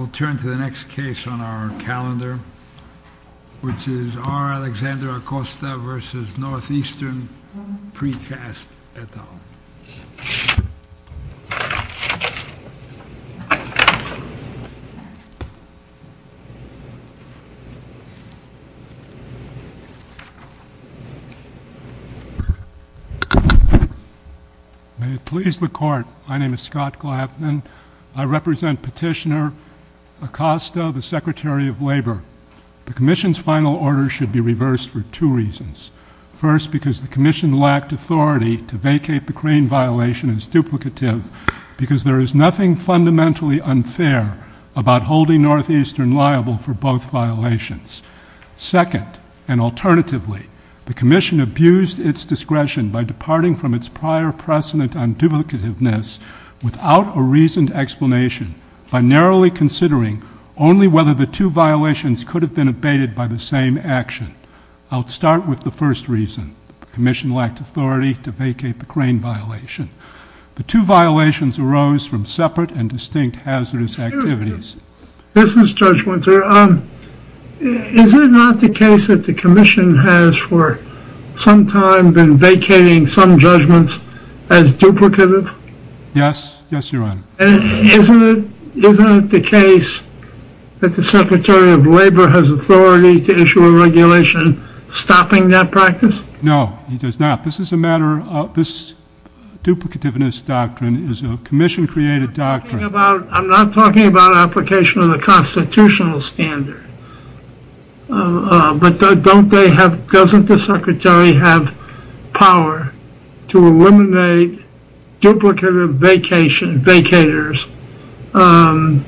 We'll turn to the next case on our calendar, which is R. Alexander Acosta v. North Eastern Precast et al. May it please the Court, my name is Scott Glapman. I represent Petitioner Acosta, the Secretary of Labor. The Commission's final order should be reversed for two reasons. First, because the Commission lacked authority to vacate the crane violation as duplicative because there is nothing fundamentally unfair about holding Northeastern liable for both violations. Second, and alternatively, the Commission abused its discretion by departing from its prior precedent on duplicativeness without a reasoned explanation by narrowly considering only whether the two violations could have been abated by the same action. I'll start with the first reason. The Commission lacked authority to vacate the crane violation. The two violations arose from separate and distinct hazardous activities. This is Judge Winter. Is it not the case that the Commission has for some time been vacating some judgments as duplicative? Yes. Yes, Your Honor. Isn't it the case that the Secretary of Labor has authority to issue a regulation stopping that practice? No, he does not. This is a matter of this duplicativeness doctrine is a Commission-created doctrine. I'm not talking about application of the constitutional standard, but doesn't the Secretary have power to eliminate duplicative vacators whether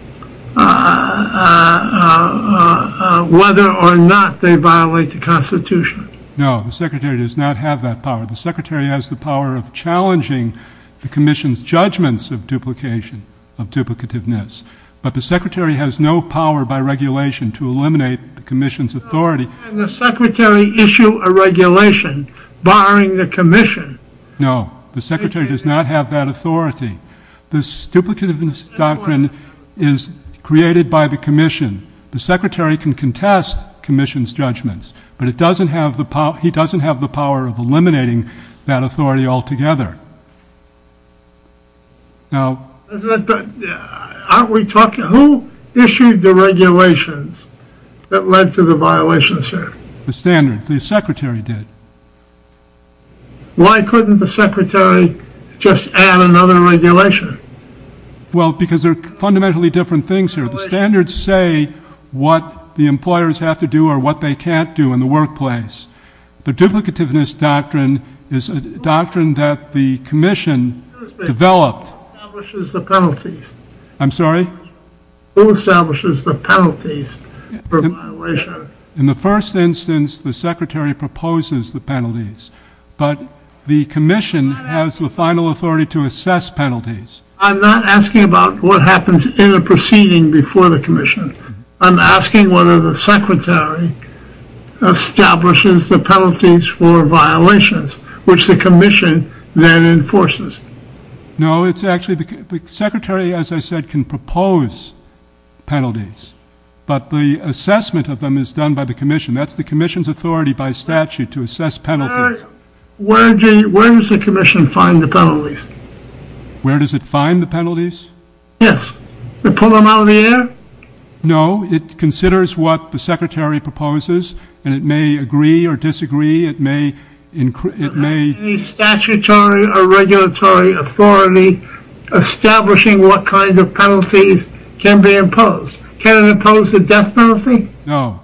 or not they violate the Constitution? No, the Secretary does not have that power. The Secretary has the power of challenging the Commission's judgments of duplication, of duplicativeness, but the Secretary has no power by regulation to eliminate the Commission's authority. Can the Secretary issue a regulation barring the Commission? No, the Secretary does not have that authority. This duplicativeness doctrine is created by the Commission. The Secretary can contest Commission's judgments, but he doesn't have the power of eliminating that authority altogether. Who issued the regulations that led to the violations, sir? The standards. The Secretary did. Why couldn't the Secretary just add another regulation? Well, because they're fundamentally different things here. The standards say what the employers have to do or what they can't do in the workplace. The duplicativeness doctrine is a doctrine that the Commission developed. Who establishes the penalties? I'm sorry? Who establishes the penalties for violation? In the first instance, the Secretary proposes the penalties, but the Commission has the final authority to assess penalties. I'm not asking about what happens in a proceeding before the Commission. I'm asking whether the Secretary establishes the penalties for violations, which the Commission then enforces. No, it's actually because the Secretary, as I said, can propose penalties, but the assessment of them is done by the Commission. That's the Commission's authority by statute to assess penalties. Where does the Commission find the penalties? Where does it find the penalties? Yes. We pull them out of the air? No, it considers what the Secretary proposes, and it may agree or disagree. It may— Is there any statutory or regulatory authority establishing what kind of penalties can be imposed? Can it impose a death penalty? No.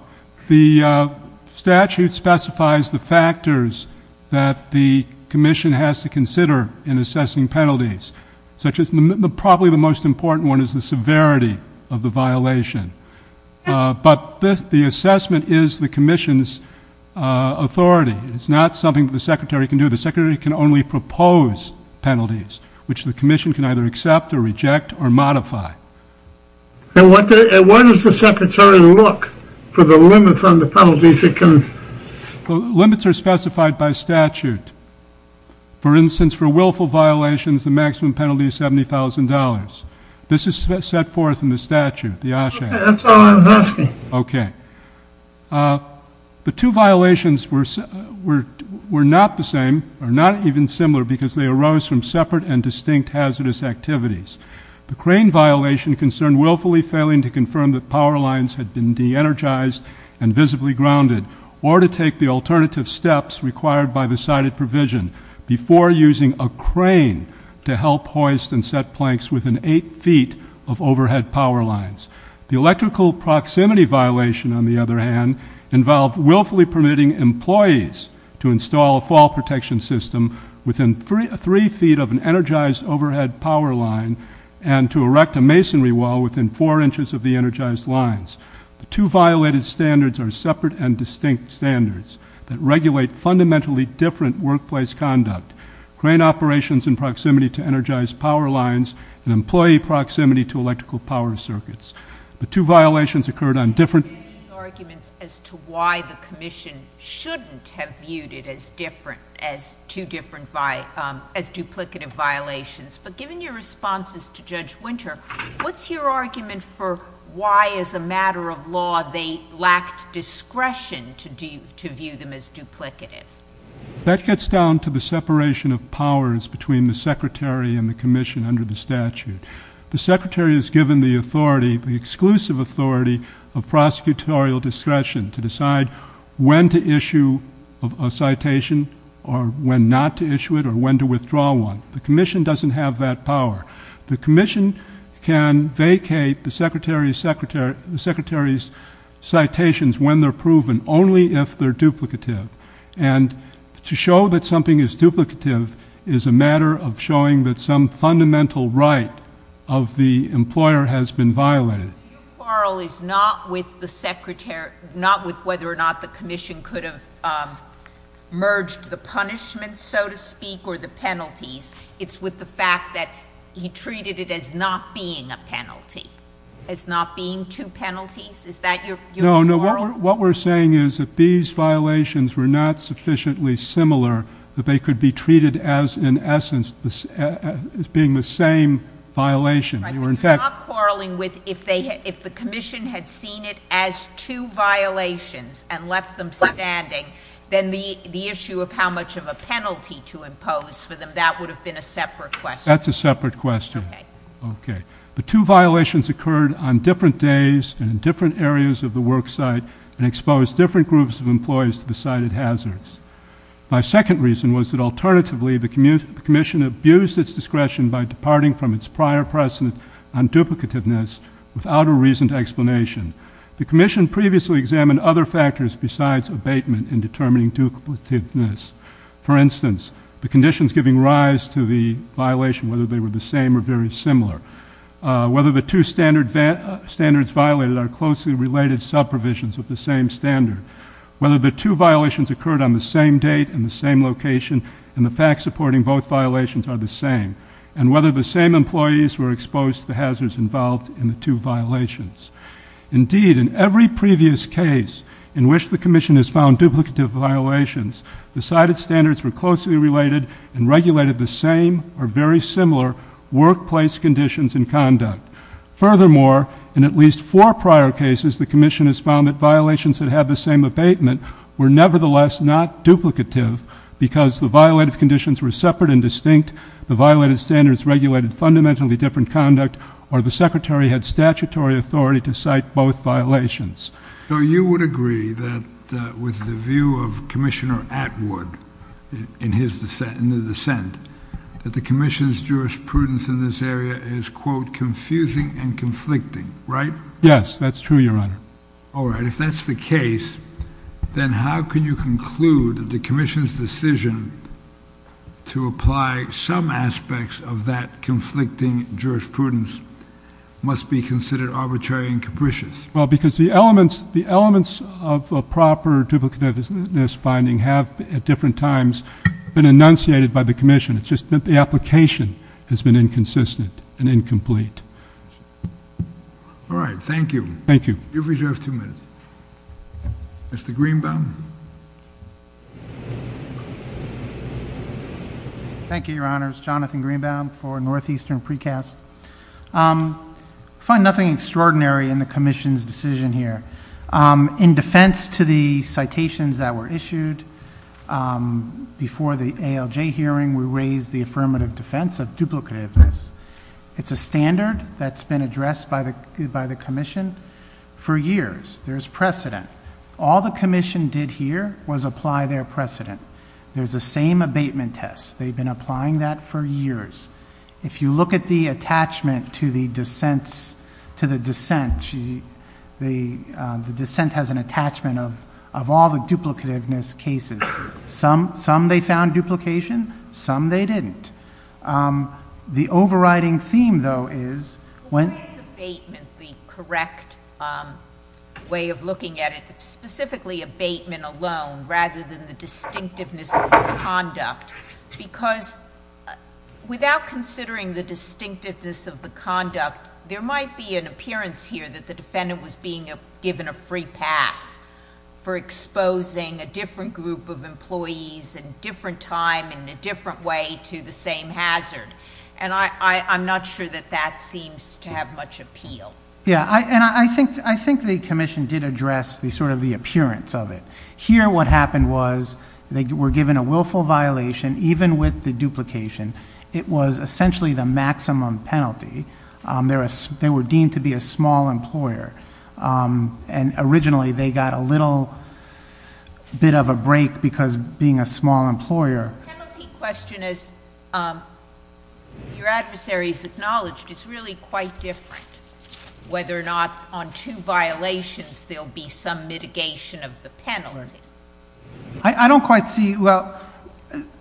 The statute specifies the factors that the Commission has to consider in assessing penalties, such as probably the most important one is the severity of the violation. But the assessment is the Commission's authority. It's not something the Secretary can do. The Secretary can only propose penalties, which the Commission can either accept or reject or modify. And what does the Secretary look for the limits on the penalties? Limits are specified by statute. For instance, for willful violations, the maximum penalty is $70,000. This is set forth in the statute, the OSHA Act. That's all I'm asking. Okay. The two violations were not the same, or not even similar, because they arose from separate and distinct hazardous activities. The crane violation concerned willfully failing to confirm that power lines had been de-energized and visibly grounded or to take the alternative steps required by the cited provision before using a crane to help hoist and set planks within eight feet of overhead power lines. The electrical proximity violation, on the other hand, involved willfully permitting employees to install a fall protection system within three feet of an energized overhead power line and to erect a masonry wall within four inches of the energized lines. The two violated standards are separate and distinct standards that regulate fundamentally different workplace conduct, crane operations in proximity to energized power lines, and employee proximity to electrical power circuits. The two violations occurred on different There are arguments as to why the commission shouldn't have viewed it as different, as two different, as duplicative violations. But given your responses to Judge Winter, what's your argument for why, as a matter of law, they lacked discretion to view them as duplicative? That gets down to the separation of powers between the secretary and the commission under the statute. The secretary is given the authority, the exclusive authority, of prosecutorial discretion to decide when to issue a citation or when not to issue it or when to withdraw one. The commission doesn't have that power. The commission can vacate the secretary's citations when they're proven, only if they're duplicative. And to show that something is duplicative is a matter of showing that some fundamental right of the employer has been violated. Your quarrel is not with the secretary, not with whether or not the commission could have merged the punishments, so to speak, or the penalties. It's with the fact that he treated it as not being a penalty, as not being two penalties. Is that your quarrel? No, what we're saying is that these violations were not sufficiently similar that they could be treated as, in essence, as being the same violation. You're not quarreling with if the commission had seen it as two violations and left them standing, then the issue of how much of a penalty to impose for them, that would have been a separate question. That's a separate question. Okay. The two violations occurred on different days and in different areas of the work site and exposed different groups of employees to the cited hazards. My second reason was that, alternatively, the commission abused its discretion by departing from its prior precedent on duplicativeness without a reason to explanation. The commission previously examined other factors besides abatement in determining duplicativeness. For instance, the conditions giving rise to the violation, whether they were the same or very similar, whether the two standards violated are closely related sub-provisions of the same standard, whether the two violations occurred on the same date and the same location and the facts supporting both violations are the same, and whether the same employees were exposed to the hazards involved in the two violations. Indeed, in every previous case in which the commission has found duplicative violations, the cited standards were closely related and regulated the same or very similar workplace conditions and conduct. Furthermore, in at least four prior cases, the commission has found that violations that have the same abatement were nevertheless not duplicative because the violative conditions were separate and distinct, the violated standards regulated fundamentally different conduct, or the secretary had statutory authority to cite both violations. So you would agree that with the view of Commissioner Atwood in his dissent, in the dissent, that the commission's jurisprudence in this area is, quote, confusing and conflicting, right? Yes, that's true, Your Honor. All right. If that's the case, then how can you conclude that the commission's decision to apply some aspects of that conflicting jurisprudence must be considered arbitrary and capricious? Well, because the elements of a proper duplicativeness finding have, at different times, been enunciated by the commission. It's just that the application has been inconsistent and incomplete. All right. Thank you. Thank you. You've reserved two minutes. Mr. Greenbaum. Thank you, Your Honors. Jonathan Greenbaum for Northeastern Precast. I find nothing extraordinary in the commission's decision here. In defense to the citations that were issued before the ALJ hearing, we raise the affirmative defense of duplicativeness. It's a standard that's been addressed by the commission for years. There's precedent. All the commission did here was apply their precedent. There's the same abatement test. They've been applying that for years. If you look at the attachment to the dissent, the dissent has an attachment of all the duplicativeness cases. Some they found duplication. Some they didn't. The overriding theme, though, is when— Why is abatement the correct way of looking at it, specifically abatement alone rather than the distinctiveness of conduct? Because without considering the distinctiveness of the conduct, there might be an appearance here that the defendant was being given a free pass for exposing a different group of employees at a different time in a different way to the same hazard. I'm not sure that that seems to have much appeal. I think the commission did address the appearance of it. Here what happened was they were given a willful violation, even with the duplication. It was essentially the maximum penalty. They were deemed to be a small employer, and originally they got a little bit of a break because being a small employer— The penalty question, as your adversaries acknowledged, is really quite different, whether or not on two violations there will be some mitigation of the penalty. I don't quite see—well,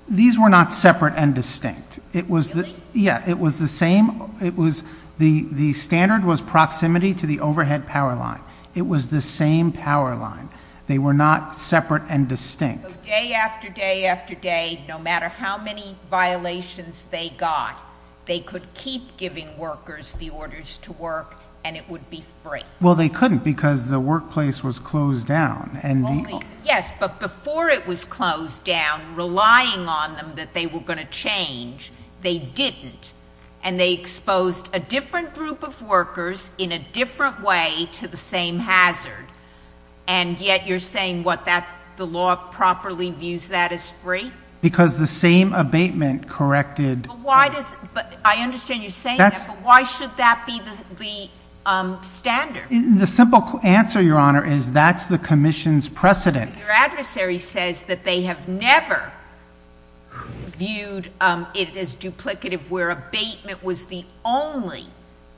these were not separate and distinct. Really? Yeah, it was the same. The standard was proximity to the overhead power line. It was the same power line. They were not separate and distinct. Day after day after day, no matter how many violations they got, they could keep giving workers the orders to work and it would be free. Well, they couldn't because the workplace was closed down. Yes, but before it was closed down, relying on them that they were going to change, they didn't, and they exposed a different group of workers in a different way to the same hazard, and yet you're saying what, the law properly views that as free? Because the same abatement corrected— I understand you're saying that, but why should that be the standard? The simple answer, Your Honor, is that's the commission's precedent. Your adversary says that they have never viewed it as duplicative, where abatement was the only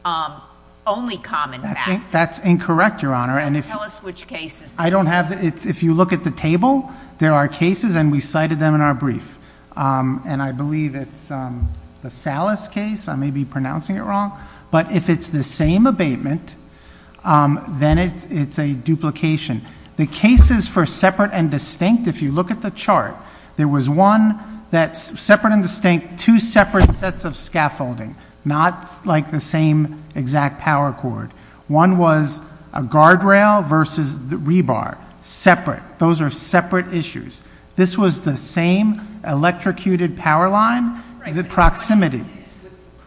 common factor. That's incorrect, Your Honor. Tell us which cases. If you look at the table, there are cases, and we cited them in our brief, and I believe it's the Salas case, I may be pronouncing it wrong, but if it's the same abatement, then it's a duplication. The cases for separate and distinct, if you look at the chart, there was one that's separate and distinct, two separate sets of scaffolding, not like the same exact power cord. One was a guardrail versus the rebar, separate. Those are separate issues. This was the same electrocuted power line, the proximity. The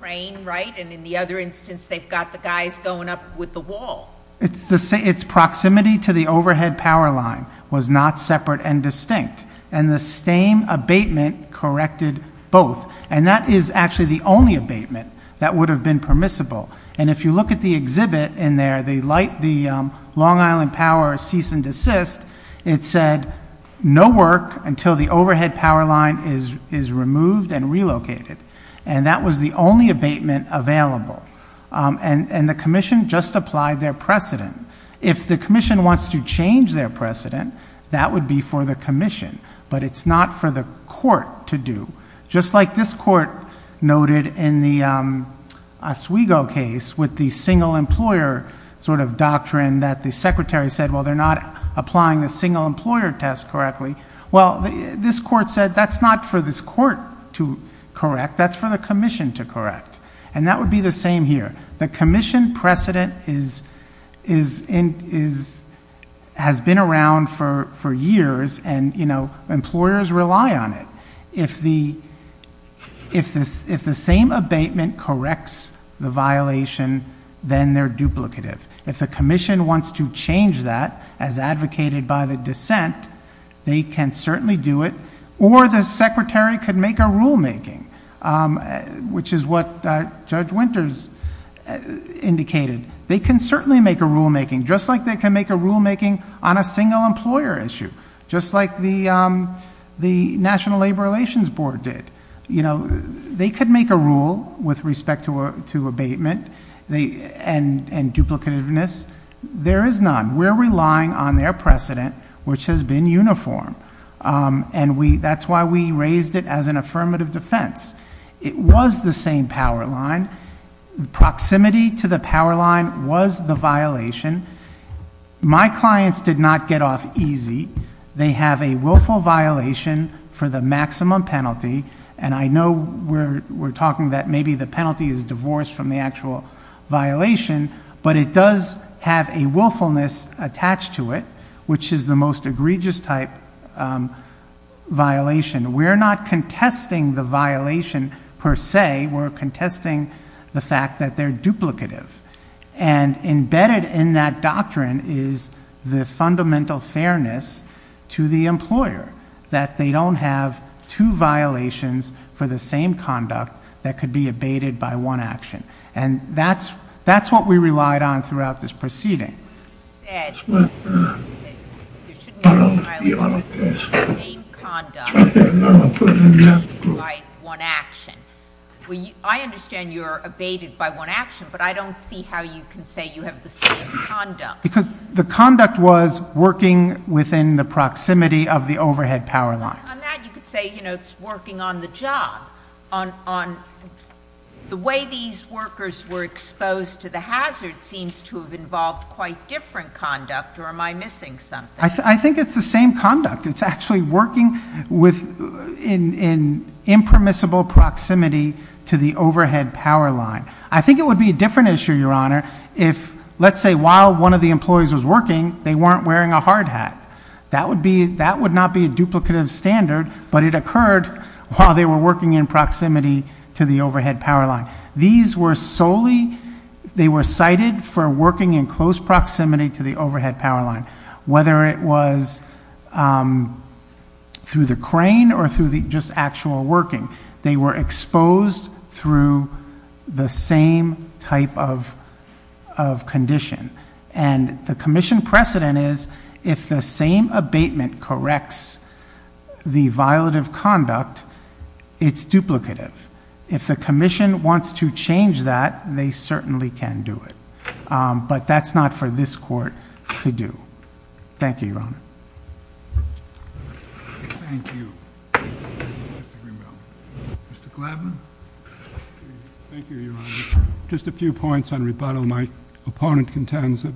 crane, right? And in the other instance, they've got the guys going up with the wall. Its proximity to the overhead power line was not separate and distinct, and the same abatement corrected both, and that is actually the only abatement that would have been permissible. And if you look at the exhibit in there, the Long Island Power Cease and Desist, it said no work until the overhead power line is removed and relocated, and that was the only abatement available. And the commission just applied their precedent. If the commission wants to change their precedent, that would be for the commission, but it's not for the court to do, just like this court noted in the Oswego case with the single employer sort of doctrine that the secretary said, well, they're not applying the single employer test correctly. Well, this court said that's not for this court to correct. That's for the commission to correct. And that would be the same here. The commission precedent has been around for years, and employers rely on it. If the same abatement corrects the violation, then they're duplicative. If the commission wants to change that as advocated by the dissent, they can certainly do it. Or the secretary could make a rulemaking, which is what Judge Winters indicated. They can certainly make a rulemaking, just like they can make a rulemaking on a single employer issue, just like the National Labor Relations Board did. They could make a rule with respect to abatement and duplicativeness. There is none. We're relying on their precedent, which has been uniform, and that's why we raised it as an affirmative defense. It was the same power line. Proximity to the power line was the violation. My clients did not get off easy. They have a willful violation for the maximum penalty. And I know we're talking that maybe the penalty is divorced from the actual violation, but it does have a willfulness attached to it, which is the most egregious type violation. We're not contesting the violation per se. We're contesting the fact that they're duplicative. And embedded in that doctrine is the fundamental fairness to the employer, that they don't have two violations for the same conduct that could be abated by one action. And that's what we relied on throughout this proceeding. I understand you're abated by one action, but I don't see how you can say you have the same conduct. Because the conduct was working within the proximity of the overhead power line. On that, you could say, you know, it's working on the job. The way these workers were exposed to the hazard seems to have involved quite different conduct, or am I missing something? I think it's the same conduct. It's actually working in impermissible proximity to the overhead power line. I think it would be a different issue, Your Honor, if, let's say, while one of the employees was working, they weren't wearing a hard hat. That would not be a duplicative standard, but it occurred while they were working in proximity to the overhead power line. These were solely, they were cited for working in close proximity to the overhead power line, whether it was through the crane or through the just actual working. They were exposed through the same type of condition. And the commission precedent is, if the same abatement corrects the violative conduct, it's duplicative. If the commission wants to change that, they certainly can do it. But that's not for this court to do. Thank you, Your Honor. Thank you, Mr. Greenbelt. Mr. Gladman. Thank you, Your Honor. Just a few points on rebuttal. My opponent contends that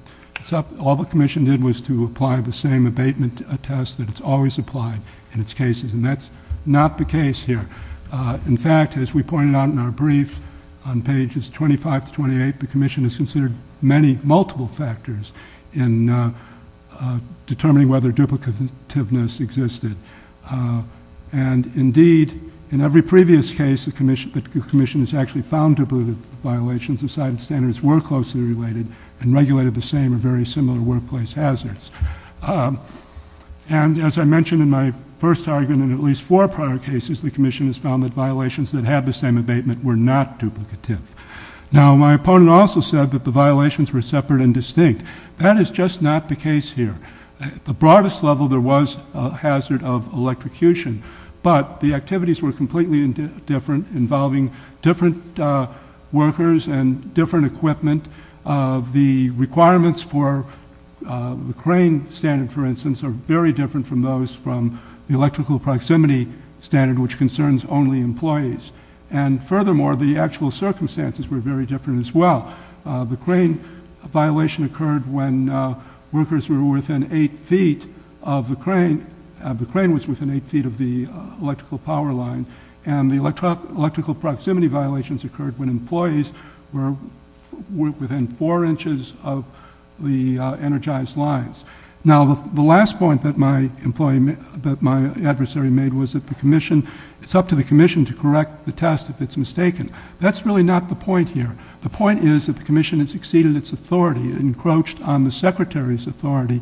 all the commission did was to apply the same abatement test that it's always applied in its cases, and that's not the case here. In fact, as we pointed out in our brief on pages 25 to 28, the commission has considered many multiple factors in determining whether duplicativeness existed. And indeed, in every previous case, the commission has actually found duplicative violations and cited standards were closely related and regulated the same or very similar workplace hazards. And as I mentioned in my first argument, in at least four prior cases, the commission has found that violations that have the same abatement were not duplicative. Now, my opponent also said that the violations were separate and distinct. That is just not the case here. At the broadest level, there was a hazard of electrocution, but the activities were completely different involving different workers and different equipment. The requirements for the crane standard, for instance, are very different from those from the electrical proximity standard, which concerns only employees. And furthermore, the actual circumstances were very different as well. The crane violation occurred when workers were within eight feet of the crane. The crane was within eight feet of the electrical power line. And the electrical proximity violations occurred when employees were within four inches of the energized lines. Now, the last point that my adversary made was that it's up to the commission to correct the test if it's mistaken. That's really not the point here. The point is that the commission has exceeded its authority. It encroached on the secretary's authority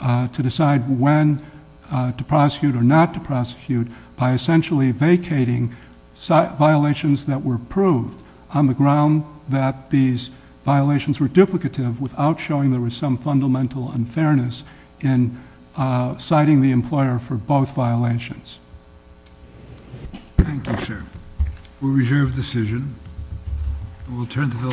to decide when to prosecute or not to prosecute by essentially vacating violations that were proved on the ground that these violations were duplicative without showing there was some fundamental unfairness in citing the employer for both violations. Thank you, sir. We reserve the decision.